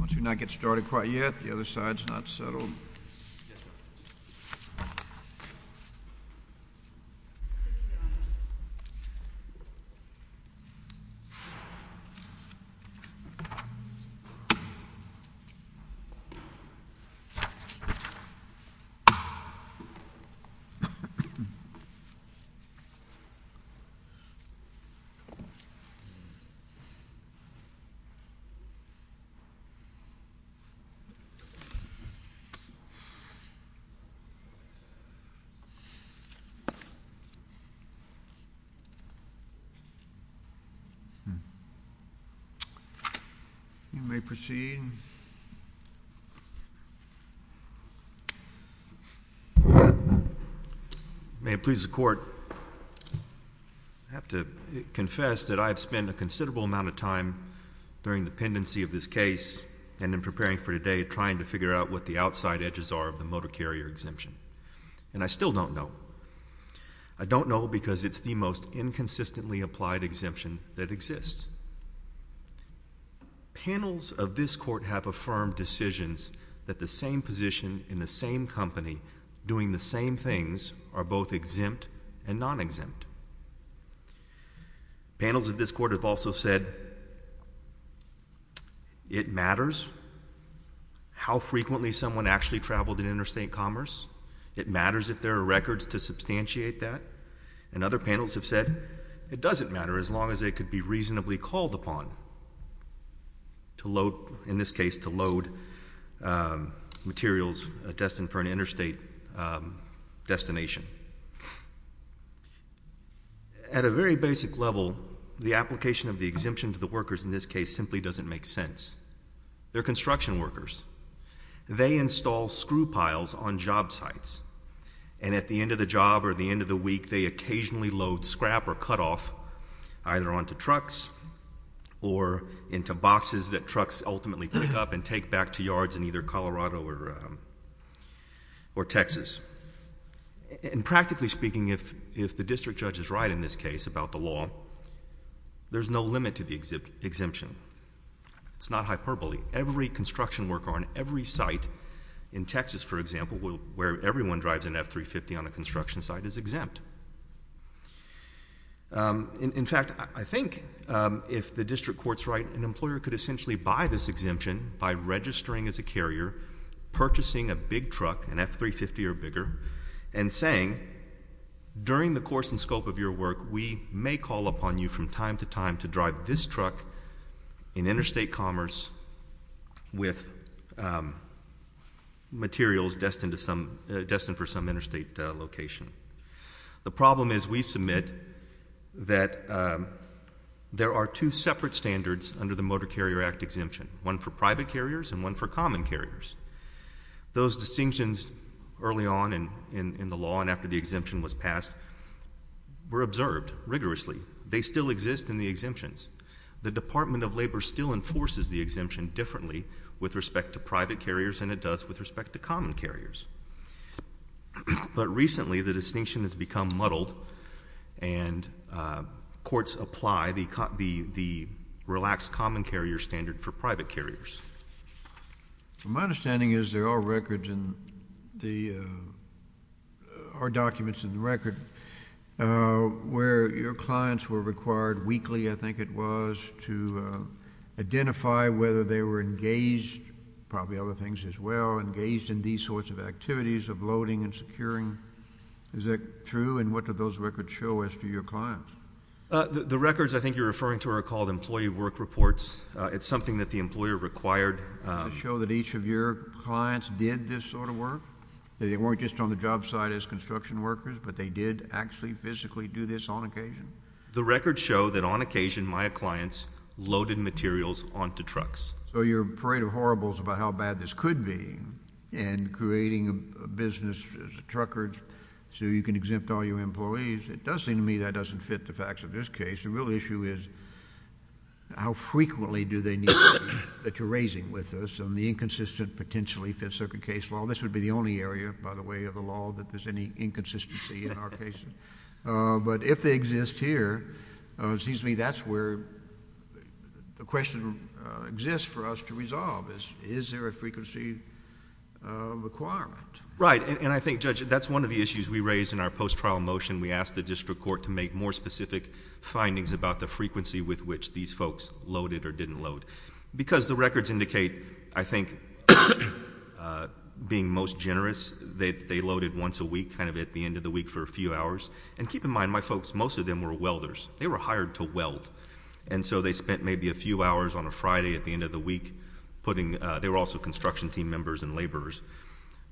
Let's get started. Why you're not get started quite yet. The other side is not settled. Okay. They proceed. I have to confess that I've spent a considerable amount of time during the pendency of this case and in preparing for today, trying to figure out what the outside edges are of the motor carrier exemption. And I still don't know. I don't know because it's the most inconsistently applied exemption that exists. Panels of this court have affirmed decisions that the same position in the same company, doing the same things, are both exempt and non-exempt. Panels of this court have also said it matters how frequently someone actually traveled in interstate commerce. It matters if there are records to substantiate that. And other panels have said it doesn't matter, as long as it could be reasonably called upon, in this case, to load materials destined for an interstate destination. At a very basic level, the application of the exemption to the workers in this case simply doesn't make sense. They're construction workers. They install screw piles on job sites. And at the end of the job or the end of the week, they occasionally load scrap or cutoff either onto trucks or into boxes that trucks ultimately pick up and take back to yards in either Colorado or Texas. And practically speaking, if the district judge is right in this case about the law, there's no limit to the exemption. It's not hyperbole. Every construction worker on every site in Texas, for example, where everyone drives an F-350 on a construction site, is exempt. In fact, I think if the district court's right, an employer could essentially buy this exemption by registering as a carrier, purchasing a big truck, an F-350 or bigger, and saying, during the course and scope of your work, we may call upon you from time to time to drive this truck in interstate commerce with materials destined for some interstate location. The problem is we submit that there are two separate standards under the Motor Carrier Act exemption, one for private carriers and one for common carriers. Those distinctions early on in the law and after the exemption was passed were observed rigorously. They still exist in the exemptions. The Department of Labor still enforces the exemption differently with respect to private carriers than it does with respect to common carriers. But recently, the distinction has become muddled, and courts apply the relaxed common carrier standard for private carriers. My understanding is there are documents in the record where your clients were required weekly, I think it was, to identify whether they were engaged, probably other things as well, engaged in these sorts of activities of loading and securing. Is that true? And what do those records show as to your clients? The records I think you're referring to are called employee work reports. It's something that the employer required. To show that each of your clients did this sort of work? They weren't just on the job site as construction workers, but they did actually physically do this on occasion? The records show that on occasion, my clients loaded materials onto trucks. So you're afraid of horribles about how bad this could be in creating a business as a trucker so you can exempt all your employees. It does seem to me that doesn't fit the facts of this case. The real issue is how frequently do they need to be that you're raising with us? And the inconsistent potentially fits circuit case law. This would be the only area, by the way, of the law that there's any inconsistency in our cases. But if they exist here, it seems to me that's where the question exists for us to resolve. Is there a frequency requirement? Right. And I think, Judge, that's one of the issues we raised in our post-trial motion. We asked the district court to make more specific findings about the frequency with which these folks loaded or didn't load. Because the records indicate, I think, being most generous, that they loaded once a week, kind of at the end of the week for a few hours. And keep in mind, my folks, most of them were welders. They were hired to weld. And so they spent maybe a few hours on a Friday at the end of the week putting. They were also construction team members and laborers.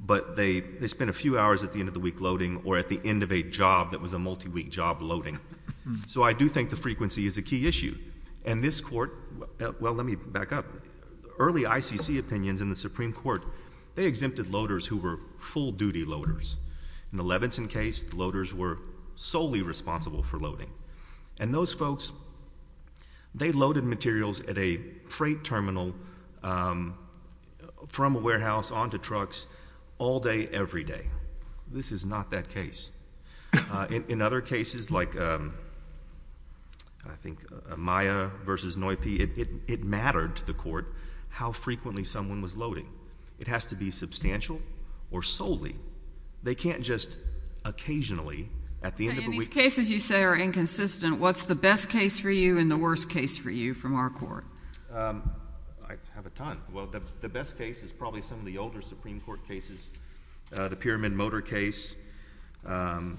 But they spent a few hours at the end of the week loading or at the end of a job that was a multi-week job loading. So I do think the frequency is a key issue. And this court, well, let me back up. Early ICC opinions in the Supreme Court, they exempted loaders who were full duty loaders. In the Levinson case, the loaders were solely responsible for loading. And those folks, they loaded materials at a freight terminal from a warehouse onto trucks all day, every day. This is not that case. In other cases, like I think Maya versus Noype, it mattered to the court how frequently someone was loading. It has to be substantial or solely. They can't just occasionally at the end of a week. In these cases you say are inconsistent, what's the best case for you and the worst case for you from our court? I have a ton. Well, the best case is probably some of the older Supreme Court cases. The Pyramid Motor case, the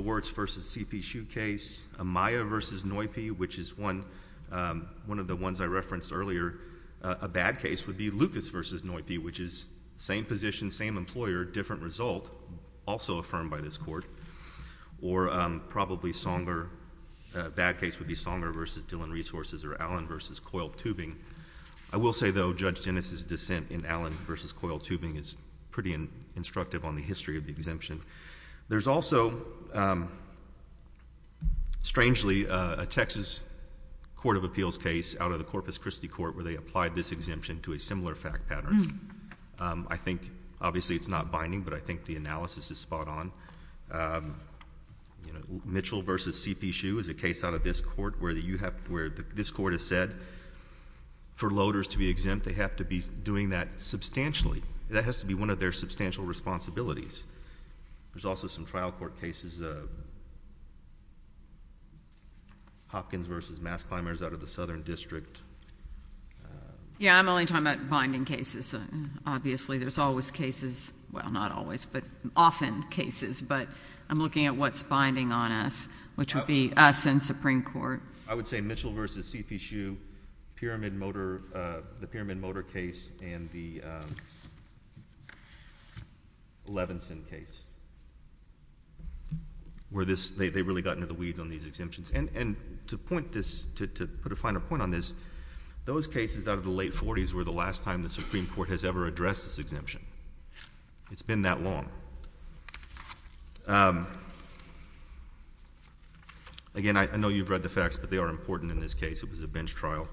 Wirtz versus CP Shoe case, Maya versus Noype, which is one of the ones I referenced earlier. A bad case would be Lucas versus Noype, which is same position, same employer, different result, also affirmed by this court. Or probably Songer, a bad case would be Songer versus Dillon Resources or Allen versus Coil Tubing. I will say, though, Judge Dennis's dissent in Allen versus Coil Tubing is pretty instructive on the history of the exemption. There's also, strangely, a Texas Court of Appeals case out of the Corpus Christi court where they applied this exemption to a similar fact pattern. I think, obviously, it's not binding, but I think the analysis is spot on. Mitchell versus CP Shoe is a case out of this court where this court has said for loaders to be exempt, they have to be doing that substantially. That has to be one of their substantial responsibilities. There's also some trial court cases, Hopkins versus Mass Climbers out of the Southern District. Yeah, I'm only talking about binding cases. Obviously, there's always cases. Well, not always, but often cases. But I'm looking at what's binding on us, which would be us and Supreme Court. I would say Mitchell versus CP Shoe, the Pyramid Motor case, and the Levinson case, where they really got into the weeds on these exemptions. And to put a finer point on this, those cases out of the late 40s were the last time the Supreme Court has ever addressed this exemption. It's been that long. Again, I know you've read the facts, but they are important in this case. It was a bench trial.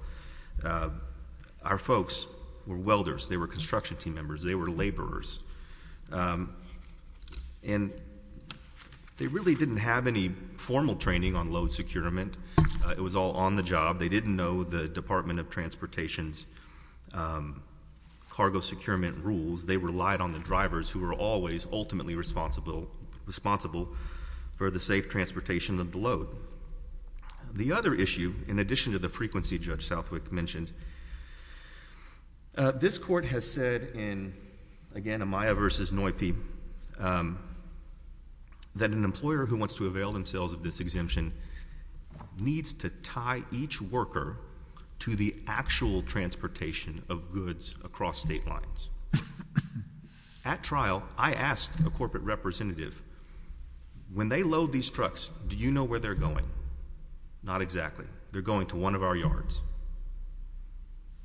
Our folks were welders. They were construction team members. They were laborers. And they really didn't have any formal training on load securement. It was all on the job. They didn't know the Department of Transportation's cargo securement rules. They relied on the drivers, who were always ultimately responsible for the safe transportation of the load. The other issue, in addition to the frequency Judge Southwick mentioned, this court has said in, again, Amaya versus Noype, that an employer who wants to avail themselves of this exemption needs to tie each worker to the actual transportation of goods across state lines. At trial, I asked a corporate representative, when they load these trucks, do you know where they're going? Not exactly. They're going to one of our yards.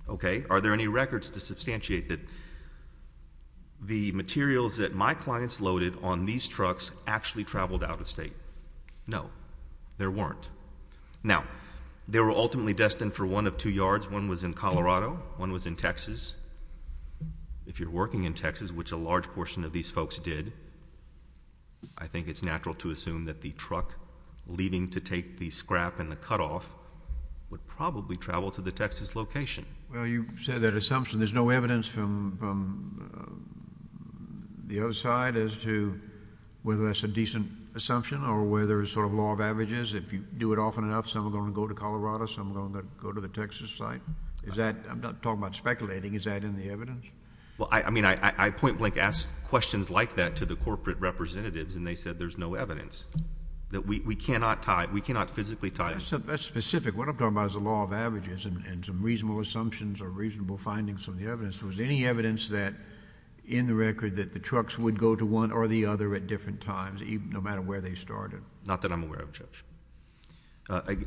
OK, are there any records to substantiate that the materials that my clients loaded on these trucks actually traveled out of state? No, there weren't. Now, they were ultimately destined for one of two yards. One was in Colorado. One was in Texas. If you're working in Texas, which a large portion of these folks did, I think it's natural to assume that the truck leaving to take the scrap and the cutoff would probably travel to the Texas location. Well, you said that assumption. There's no evidence from the other side as to whether that's a decent assumption or whether it's sort of law of averages. If you do it often enough, some are going to go to Colorado. Some are going to go to the Texas side. I'm not talking about speculating. Is that in the evidence? Well, I mean, I point blank ask questions like that to the corporate representatives, and they said there's no evidence, that we cannot physically tie it. That's specific. What I'm talking about is the law of averages and some reasonable assumptions or reasonable findings from the evidence. Was there any evidence in the record that the trucks would go to one or the other at different times, no matter where they started? Not that I'm aware of, Judge.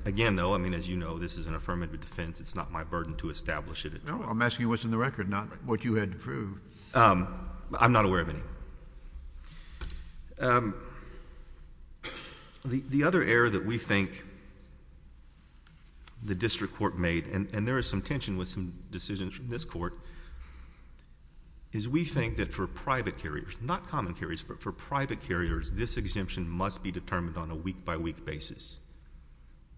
Again, though, as you know, this is an affirmative defense. It's not my burden to establish it at trial. No, I'm asking what's in the record, not what you had to prove. I'm not aware of any. The other error that we think the district court made, and there is some tension with some decisions from this court, is we think that for private carriers, not common carriers, but for private carriers, this exemption must be determined on a week-by-week basis.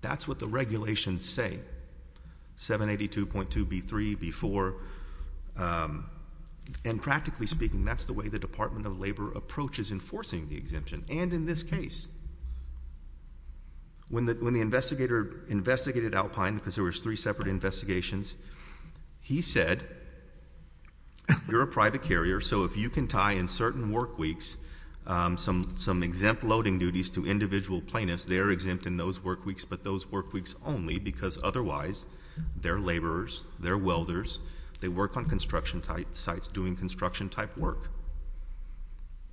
That's what the regulations say. 782.2b3, b4, and practically speaking, that's the way the Department of Labor approaches enforcing the exemption. And in this case, when the investigator investigated Alpine, because there was three separate investigations, he said, you're a private carrier, so if you can tie in certain work weeks some exempt loading duties to individual plaintiffs, they're exempt in those work weeks, but those work weeks only, because otherwise, they're laborers, they're welders, they work on construction sites doing construction-type work.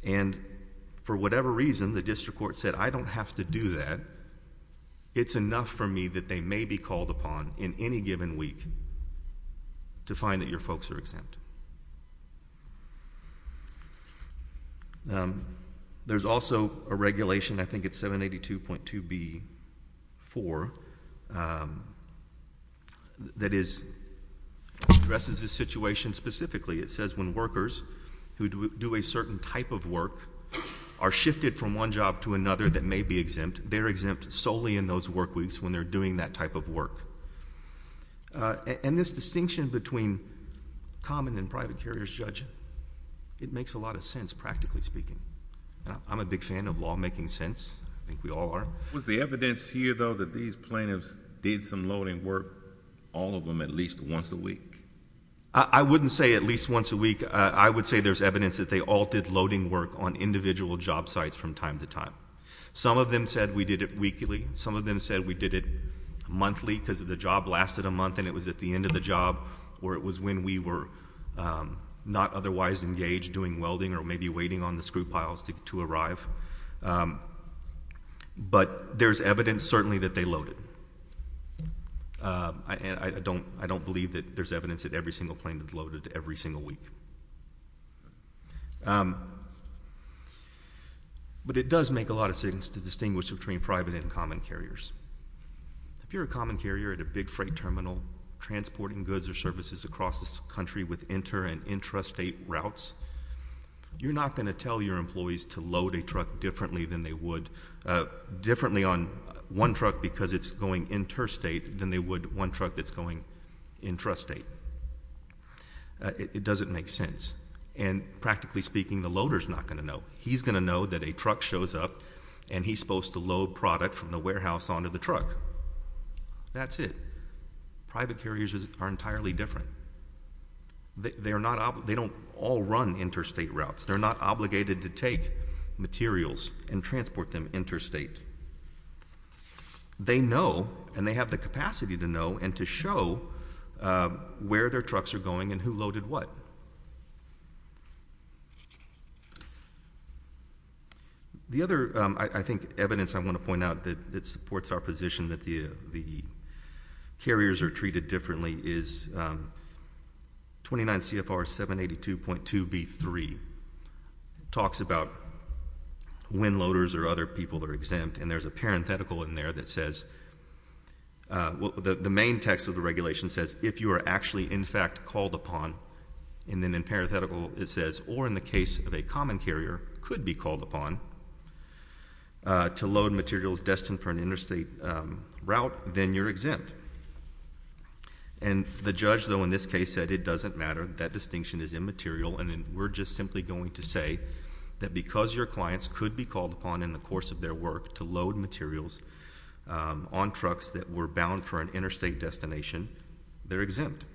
And for whatever reason, the district court said, I don't have to do that. It's enough for me that they may be called upon in any given week to find that your folks are exempt. There's also a regulation, I think it's 782.2b4, that addresses this situation specifically. It says when workers who do a certain type of work are shifted from one job to another that may be exempt, they're exempt solely in those work weeks when they're doing that type of work. And this distinction between common carriers and private carriers, Judge, it makes a lot of sense, practically speaking. I'm a big fan of law making sense. I think we all are. Was the evidence here, though, that these plaintiffs did some loading work, all of them at least once a week? I wouldn't say at least once a week. I would say there's evidence that they all did loading work on individual job sites from time to time. Some of them said we did it weekly. Some of them said we did it monthly, because the job lasted a month, and it was at the end of the job or it was when we were not otherwise engaged doing welding or maybe waiting on the screw piles to arrive. But there's evidence, certainly, that they loaded. And I don't believe that there's evidence that every single plaintiff loaded every single week. But it does make a lot of sense to distinguish between private and common carriers. If you're a common carrier at a big freight terminal transporting goods or services across this country with inter- and intrastate routes, you're not going to tell your employees to load a truck differently than they would differently on one truck because it's going interstate than they would one truck that's going intrastate. It doesn't make sense. And practically speaking, the loader's not going to know. He's going to know that a truck shows up, and he's supposed to load product from the warehouse onto the truck. That's it. Private carriers are entirely different. They don't all run interstate routes. They're not obligated to take materials and transport them interstate. They know, and they have the capacity to know and to show, where their trucks are going and who loaded what. The other, I think, evidence I want to point out that supports our position that the carriers are treated differently is 29 CFR 782.2b3 talks about when loaders or other people are exempt. And there's a parenthetical in there that says, the main text of the regulation says, if you are actually, in fact, called upon. And then in parenthetical, it says, or in the case of a common carrier, could be called upon to load materials destined for an interstate route, then you're exempt. And the judge, though, in this case said, it doesn't matter. That distinction is immaterial. And we're just simply going to say that because your clients could be called upon in the course of their work to load materials on trucks that were bound for an interstate destination, they're exempt.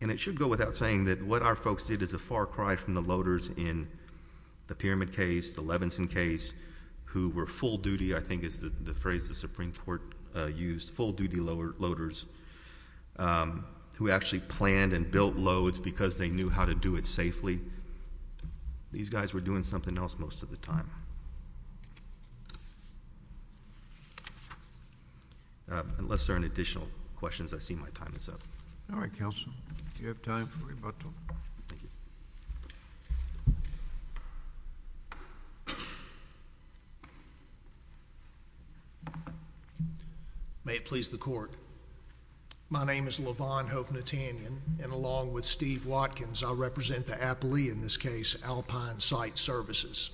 And it should go without saying that what our folks did is a far cry from the loaders in the Pyramid case, the Levinson case, who were full duty, I think is the phrase the Supreme Court used, full duty loaders, who actually planned and built loads because they knew how to do it safely. These guys were doing something else most of the time. Unless there are any additional questions, I see my time is up. All right, counsel. Do you have time for rebuttal? Thank you. Thank you. May it please the court. My name is Levon Hovnatanian. And along with Steve Watkins, I represent the Appalooie, in this case, Alpine Site Services.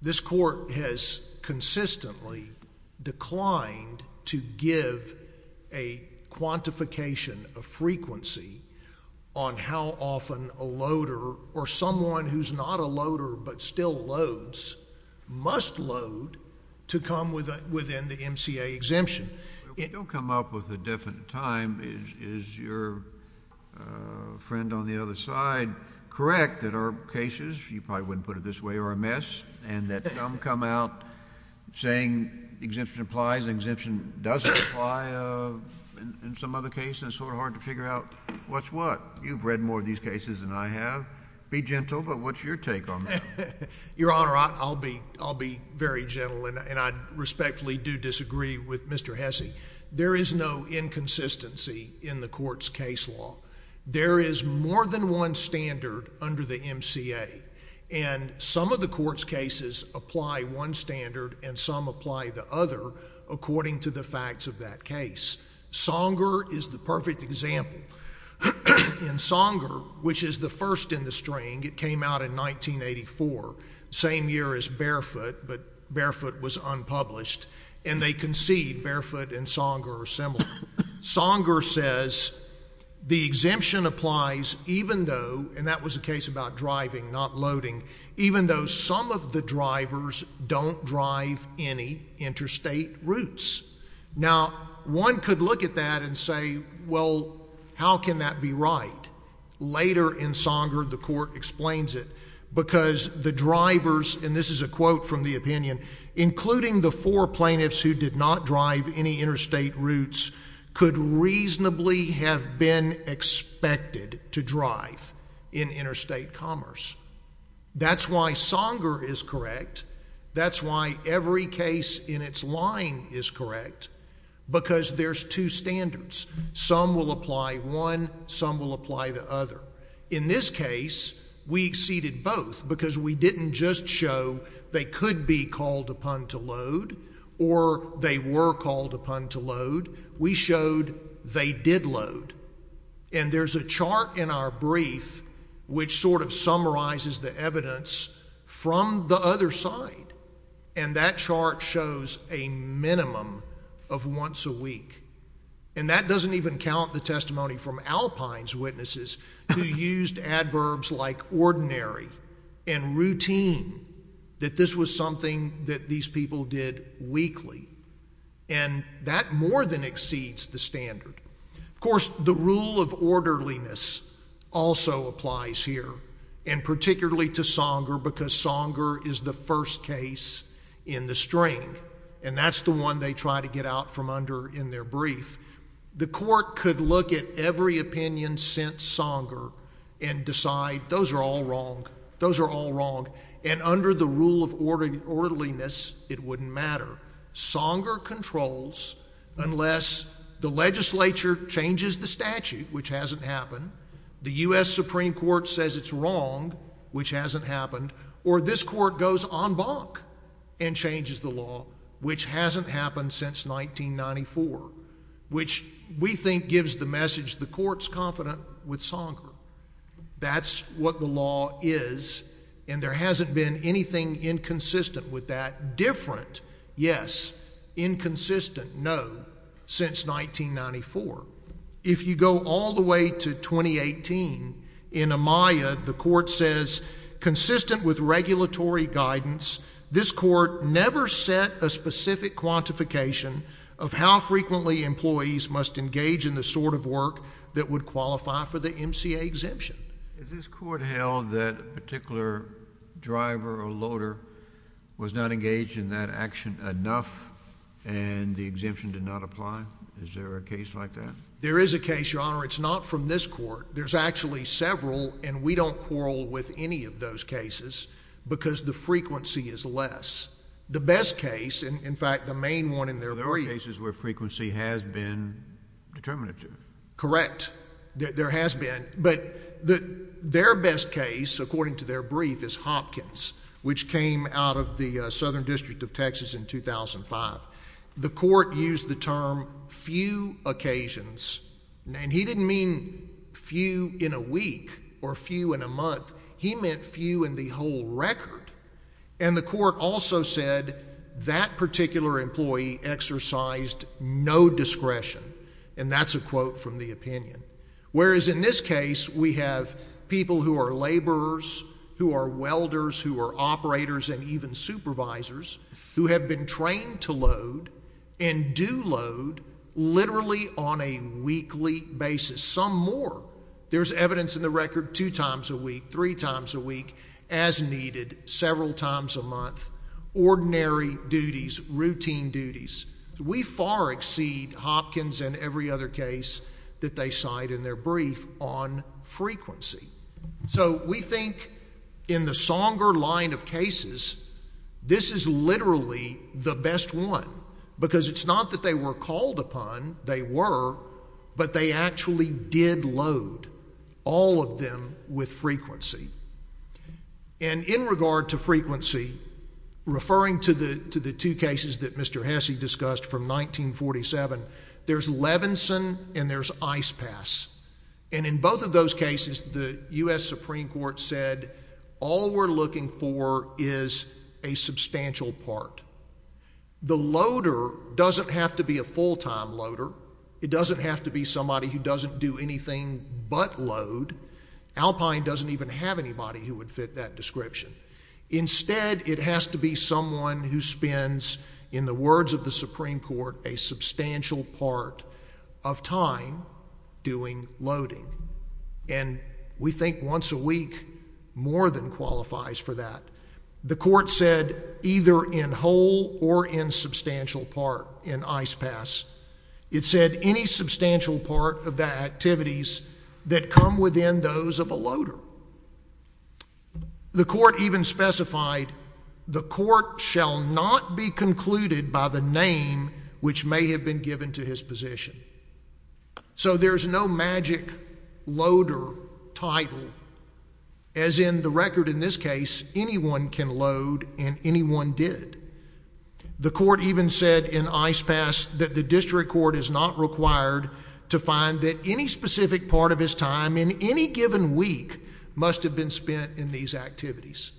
This court has consistently declined to give a quantification of frequency on how often a loader or someone who's not a loader but still loads must load to come within the MCA exemption. We don't come up with a definite time. Is your friend on the other side correct that our cases, you probably wouldn't put it this way, are a mess? And that some come out saying exemption applies, and exemption doesn't apply in some other case? And it's sort of hard to figure out what's what? You've read more of these cases than I have. Be gentle, but what's your take on that? Your Honor, I'll be very gentle, and I respectfully do disagree with Mr. Hesse. There is no inconsistency in the court's case law. There is more than one standard under the MCA. And some of the court's cases apply one standard, and some apply the other, according to the facts of that case. Songer is the perfect example. In Songer, which is the first in the string, it came out in 1984, same year as Barefoot, but Barefoot was unpublished. And they concede, Barefoot and Songer are similar. Songer says the exemption applies even though, and that was a case about driving, not loading, even though some of the drivers don't drive any interstate routes. Now, one could look at that and say, well, how can that be right? Later in Songer, the court explains it, because the drivers, and this is a quote from the opinion, including the four plaintiffs who did not drive any interstate routes, could reasonably have been expected to drive in interstate commerce. That's why Songer is correct. That's why every case in its line is correct, because there's two standards. Some will apply one, some will apply the other. In this case, we exceeded both, because we didn't just show they could be called upon to load, or they were called upon to load. We showed they did load. And there's a chart in our brief, which sort of summarizes the evidence from the other side. And that chart shows a minimum of once a week. And that doesn't even count the testimony from Alpine's witnesses, who used adverbs like ordinary and routine, that this was something that these people did weekly. And that more than exceeds the standard. Of course, the rule of orderliness also applies here, and particularly to Songer, because Songer is the first case in the string. And that's the one they try to get out from under in their brief. The court could look at every opinion since Songer and decide those are all wrong. Those are all wrong. And under the rule of orderliness, it wouldn't matter. Songer controls unless the legislature changes the statute, which hasn't happened, the US Supreme Court says it's wrong, which hasn't happened, or this court goes en banc and changes the law, which hasn't happened since 1994, which we think gives the message the court's confident with Songer. That's what the law is. And there hasn't been anything inconsistent with that different, yes, inconsistent, no, since 1994. If you go all the way to 2018, in Amaya, the court says, consistent with regulatory guidance, this court never set a specific quantification of how frequently employees must engage in the sort of work that would qualify for the MCA exemption. Is this court held that a particular driver or loader was not engaged in that action enough and the exemption did not apply? Is there a case like that? There is a case, Your Honor. It's not from this court. There's actually several, and we don't quarrel with any of those cases because the frequency is less. The best case, in fact, the main one in their brief. Are there cases where frequency has been determinative? Correct. There has been. But their best case, according to their brief, is Hopkins, which came out of the Southern District of Texas in 2005. The court used the term few occasions. And he didn't mean few in a week or few in a month. He meant few in the whole record. And the court also said that particular employee exercised no discretion. And that's a quote from the opinion. Whereas in this case, we have people who are laborers, who are welders, who are operators, and even supervisors, who have been trained to load and do load literally on a weekly basis, some more. There's evidence in the record two times a week, three times a week, as needed, several times a month, ordinary duties, routine duties. We far exceed Hopkins and every other case that they cite in their brief on frequency. So we think in the Songer line of cases, this is literally the best one. Because it's not that they were called upon. They were. But they actually did load, all of them, with frequency. And in regard to frequency, referring to the two cases that Mr. Hesse discussed from 1947, there's Levinson and there's Ice Pass. And in both of those cases, the US Supreme Court said all we're looking for is a substantial part. The loader doesn't have to be a full time loader. It doesn't have to be somebody who doesn't do anything but load. Alpine doesn't even have anybody who would fit that description. Instead, it has to be someone who spends, in the words of the Supreme Court, a substantial part of time doing loading. And we think once a week more than qualifies for that. The court said either in whole or in substantial part in Ice Pass. It said any substantial part of the activities that come within those of a loader. The court even specified, the court shall not be concluded by the name which may have been given to his position. So there's no magic loader title. As in the record in this case, anyone can load and anyone did. The court even said in Ice Pass that the district court is not required to find that any specific part of his time in any given week must have been spent in these activities.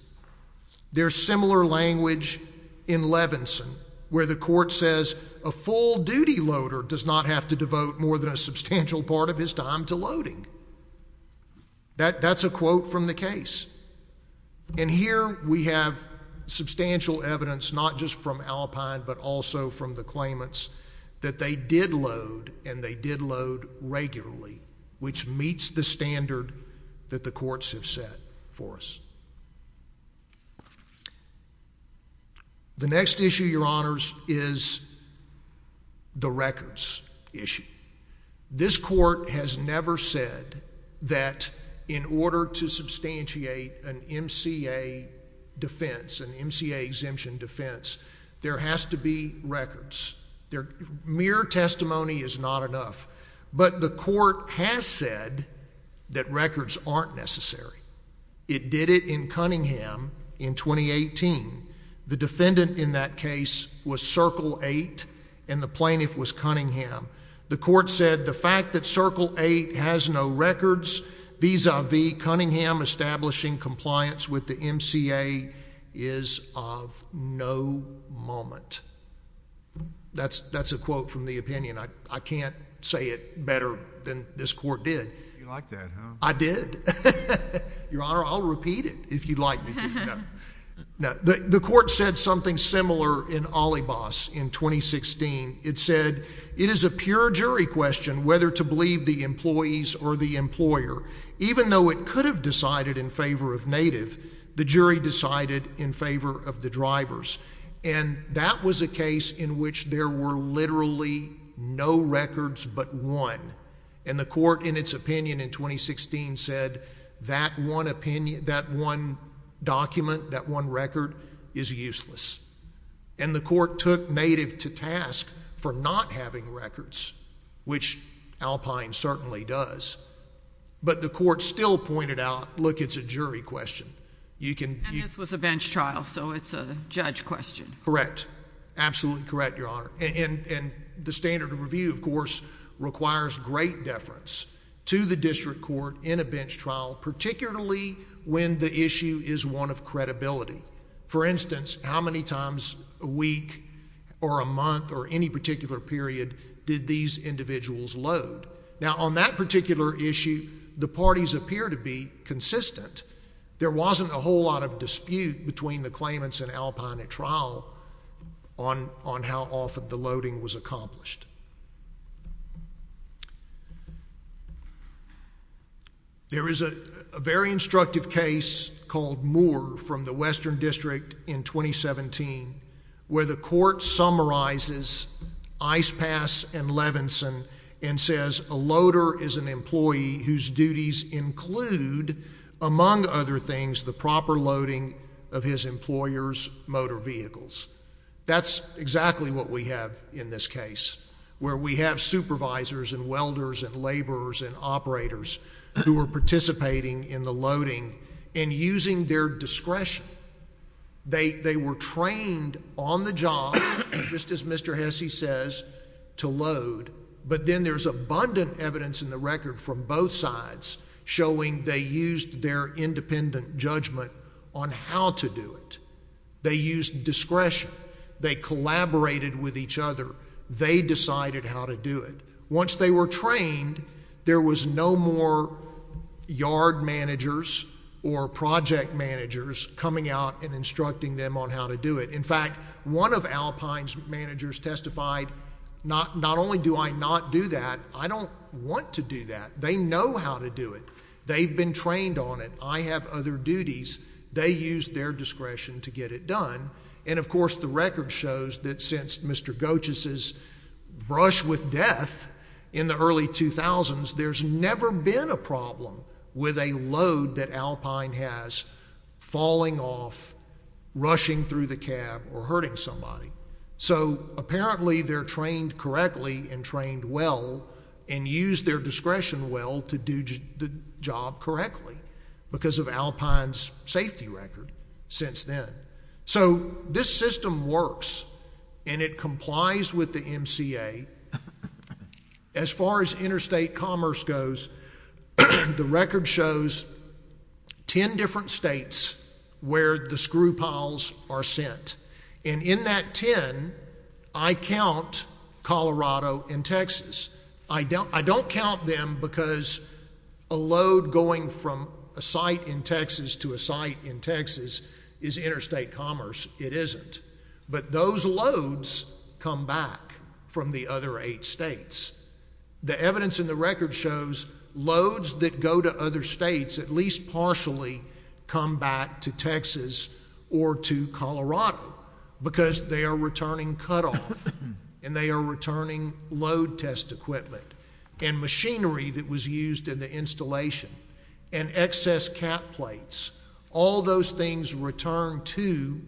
There's similar language in Levinson, where the court says a full duty loader does not have to devote more than a substantial part of his time to loading. That's a quote from the case. And here we have substantial evidence, not just from Alpine but also from the claimants, that they did load and they did load regularly, which meets the standard that the courts have set for us. The next issue, your honors, is the records issue. This court has never said that in order to substantiate an MCA defense, an MCA exemption defense, there has to be records. Mere testimony is not enough. But the court has said that records aren't necessary. It did it in Cunningham in 2018. The defendant in that case was Circle 8 and the plaintiff was Cunningham. The court said the fact that Circle 8 has no records vis-a-vis Cunningham establishing compliance with the MCA is of no moment. That's a quote from the opinion. I can't say it better than this court did. You like that, huh? I did. Your honor, I'll repeat it if you'd like me to. The court said something similar in Alibos in 2016. It said, it is a pure jury question whether to believe the employees or the employer. Even though it could have decided in favor of native, the jury decided in favor of the drivers. And that was a case in which there were literally no records but one. And the court, in its opinion in 2016, said that one document, that one record, is useless. And the court took native to task for not having records, which Alpine certainly does. But the court still pointed out, look, it's a jury question. And this was a bench trial, so it's a judge question. Correct. Absolutely correct, your honor. And the standard of review, of course, requires great deference to the district court in a bench trial, particularly when the issue is one of credibility. For instance, how many times a week or a month or any particular period did these individuals load? Now on that particular issue, the parties appear to be consistent. There wasn't a whole lot of dispute between the claimants and Alpine at trial on how often the loading was accomplished. There is a very instructive case called Moore from the Western District in 2017 where the court summarizes Ice Pass and Levinson and says a loader is an employee whose duties include among other things the proper loading of his employer's motor vehicles. That's exactly what we have in this case, where we have supervisors and welders and laborers and operators who are participating in the loading and using their discretion. They were trained on the job, just as Mr. Hesse says, to load. But then there's abundant evidence in the record from both sides showing they used their independent judgment on how to do it. They used discretion. They collaborated with each other. They decided how to do it. Once they were trained, there was no more yard managers or project managers coming out and instructing them on how to do it. In fact, one of Alpine's managers testified, not only do I not do that, I don't want to do that. They know how to do it. They've been trained on it. I have other duties. They used their discretion to get it done. And of course, the record shows that since Mr. Goetjes' brush with death in the early 2000s, there's never been a problem with a load that Alpine has falling off, rushing through the cab, or hurting somebody. So apparently, they're trained correctly and trained well and used their discretion well to do the job correctly because of Alpine's safety record since then. So this system works. And it complies with the MCA. As far as interstate commerce goes, the record shows 10 different states where the screw piles are sent. And in that 10, I count Colorado and Texas. I don't count them because a load going from a site in Texas to a site in Texas is interstate commerce. It isn't. But those loads come back from the other eight states. The evidence in the record shows loads that go to other states at least partially come back to Texas or to Colorado because they are returning cutoff. And they are returning load test equipment and machinery that was used in the installation and excess cap plates. All those things return to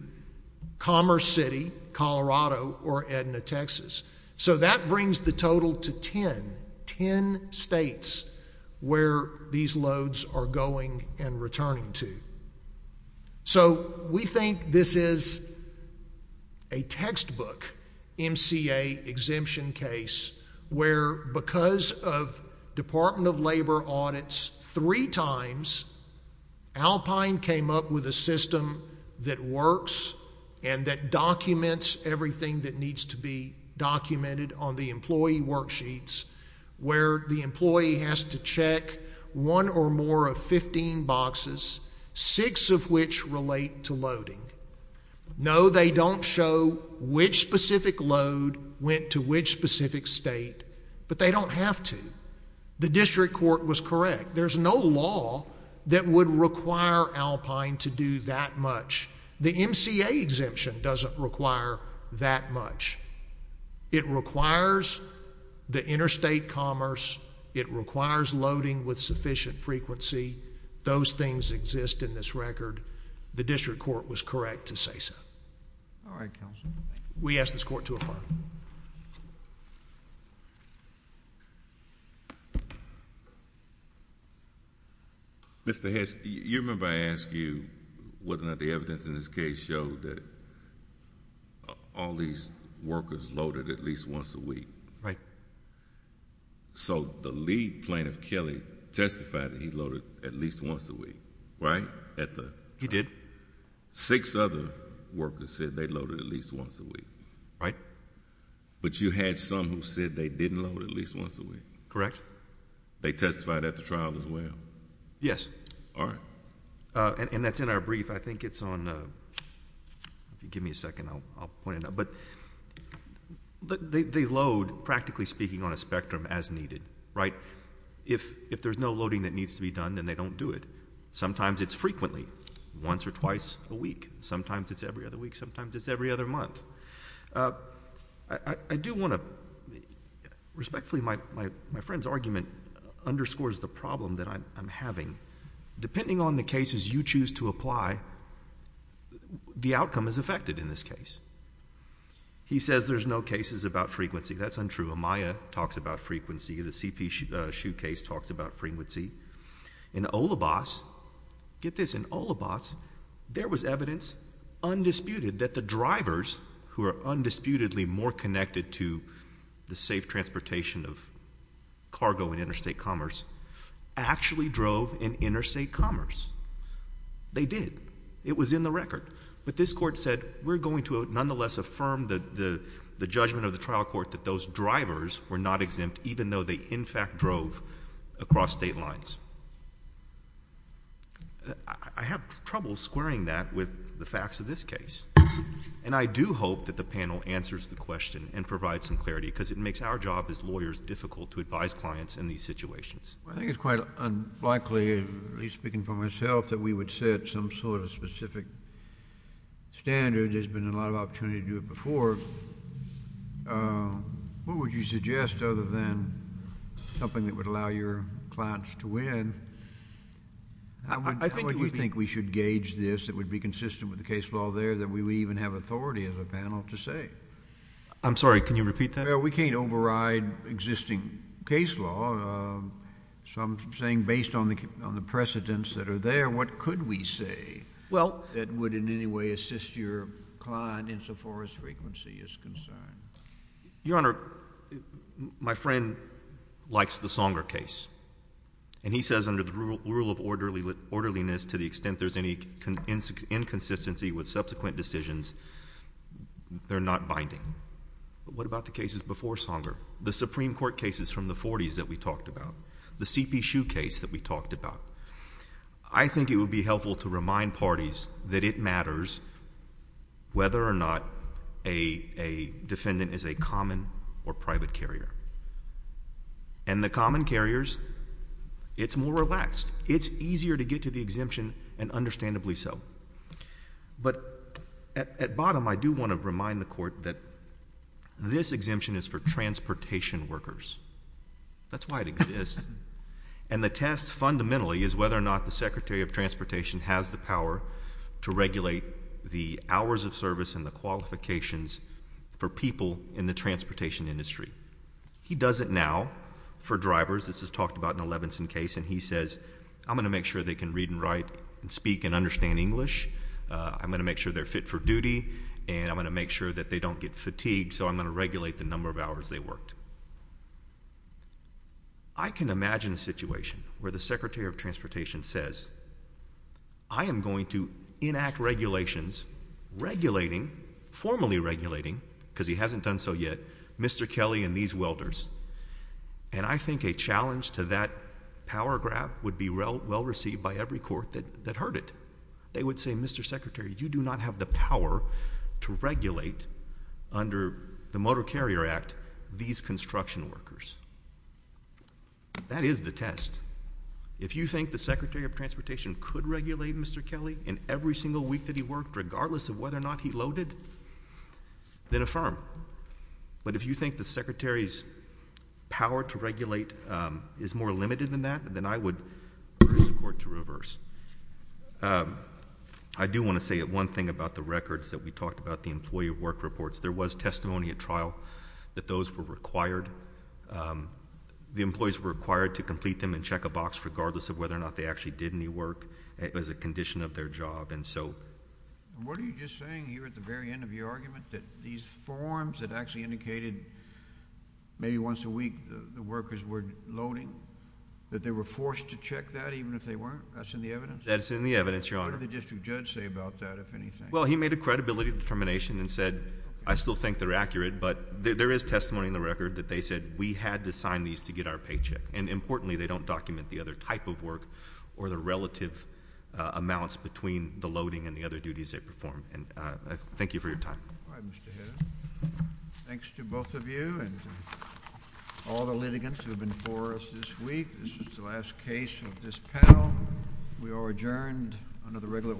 Commerce City, Colorado, or Edna, Texas. So that brings the total to 10, 10 states where these loads are going and returning to. So we think this is a textbook MCA exemption case where because of Department of Labor audits three times, Alpine came up with a system that works and that documents everything that needs to be documented on the employee worksheets where the employee has to check one or more of 15 boxes, six of which relate to loading. No, they don't show which specific load went to which specific state, but they don't have to. The district court was correct. There's no law that would require Alpine to do that much. The MCA exemption doesn't require that much. It requires the interstate commerce. It requires loading with sufficient frequency. Those things exist in this record. The district court was correct to say so. All right, counsel. We ask this court to affirm. Mr. Hess, you remember I asked you whether or not the evidence in this case showed that all these workers loaded at least once a week. Right. So the lead plaintiff, Kelly, testified that he loaded at least once a week, right, at the trial? He did. Six other workers said they loaded at least once a week. Right. But you had some who said they didn't load at least once a week. Correct. They testified at the trial as well? Yes. All right. And that's in our brief. I think it's on, if you give me a second, I'll point it out. But they load, practically speaking, on a spectrum as needed. Right. If there's no loading that needs to be done, then they don't do it. Sometimes it's frequently, once or twice a week. Sometimes it's every other week. Sometimes it's every other month. I do want to, respectfully, my friend's argument underscores the problem that I'm having. Depending on the cases you choose to apply, the outcome is affected in this case. He says there's no cases about frequency. That's untrue. Amaya talks about frequency. The CP shoe case talks about frequency. In Olibas, get this, in Olibas, there was evidence, undisputed, that the drivers, who are undisputedly more connected to the safe transportation of cargo in interstate commerce, actually drove in interstate commerce. They did. It was in the record. But this court said, we're going to, nonetheless, affirm the judgment of the trial court that those drivers were not exempt, even though they, in fact, drove across state lines. I have trouble squaring that with the facts of this case. And I do hope that the panel answers the question and provides some clarity. Because it makes our job as lawyers difficult to advise clients in these situations. I think it's quite unlikely, at least speaking for myself, that we would set some sort of specific standard. There's been a lot of opportunity to do it before. What would you suggest, other than something that would allow your clients to win? I think we think we should gauge this. It would be consistent with the case law there that we would even have authority as a panel to say. I'm sorry. Can you repeat that? We can't override existing case law. So I'm saying, based on the precedents that are there, what could we say that would, in any way, assist your client insofar as frequency is concerned? Your Honor, my friend likes the Songer case. And he says, under the rule of orderliness, to the extent there's any inconsistency with subsequent decisions, they're not binding. But what about the cases before Songer, the Supreme Court cases from the 40s that we talked about, the CP Shoe case that we talked about? I think it would be helpful to remind parties that it matters whether or not a defendant is a common or private carrier. And the common carriers, it's more relaxed. It's easier to get to the exemption, and understandably so. But at bottom, I do want to remind the Court that this exemption is for transportation workers. That's why it exists. And the test, fundamentally, is whether or not the Secretary of Transportation has the power to regulate the hours of service and the qualifications for people in the transportation industry. He does it now for drivers. This is talked about in the Levinson case. And he says, I'm going to make sure they can read and write, and speak, and understand English. I'm going to make sure they're fit for duty. And I'm going to make sure that they don't get fatigued. So I'm going to regulate the number of hours they worked. I can imagine a situation where the Secretary of Transportation says, I am going to enact regulations, regulating, formally regulating, because he hasn't done so yet, Mr. Kelly and these welders. And I think a challenge to that power graph would be well-received by every court that heard it. They would say, Mr. Secretary, you do not have the power to regulate, under the Motor Carrier Act, these construction workers. That is the test. If you think the Secretary of Transportation could regulate Mr. Kelly in every single week that he worked, regardless of whether or not he loaded, then affirm. But if you think the Secretary's power to regulate is more limited than that, then I would urge the court to reverse. I do want to say that one thing about the records that we talked about, the employee work reports, there was testimony at trial that those were required. The employees were required to complete them and check a box, regardless of whether or not they actually did any work, as a condition of their job. And so what are you just saying here at the very end of your argument, that these forms that actually indicated maybe once a week the workers were loading, that they were forced to check that, even if they weren't? That's in the evidence? That's in the evidence, Your Honor. What did the district judge say about that, if anything? Well, he made a credibility determination and said, I still think they're accurate, but there is testimony in the record that they said we had to sign these to get our paycheck. And importantly, they don't document the other type of work or the relative amounts between the loading and the other duties they perform. Thank you for your time. All right, Mr. Hedda. Thanks to both of you and all the litigants who have been before us this week. This is the last case of this panel. We are adjourned under the regular order.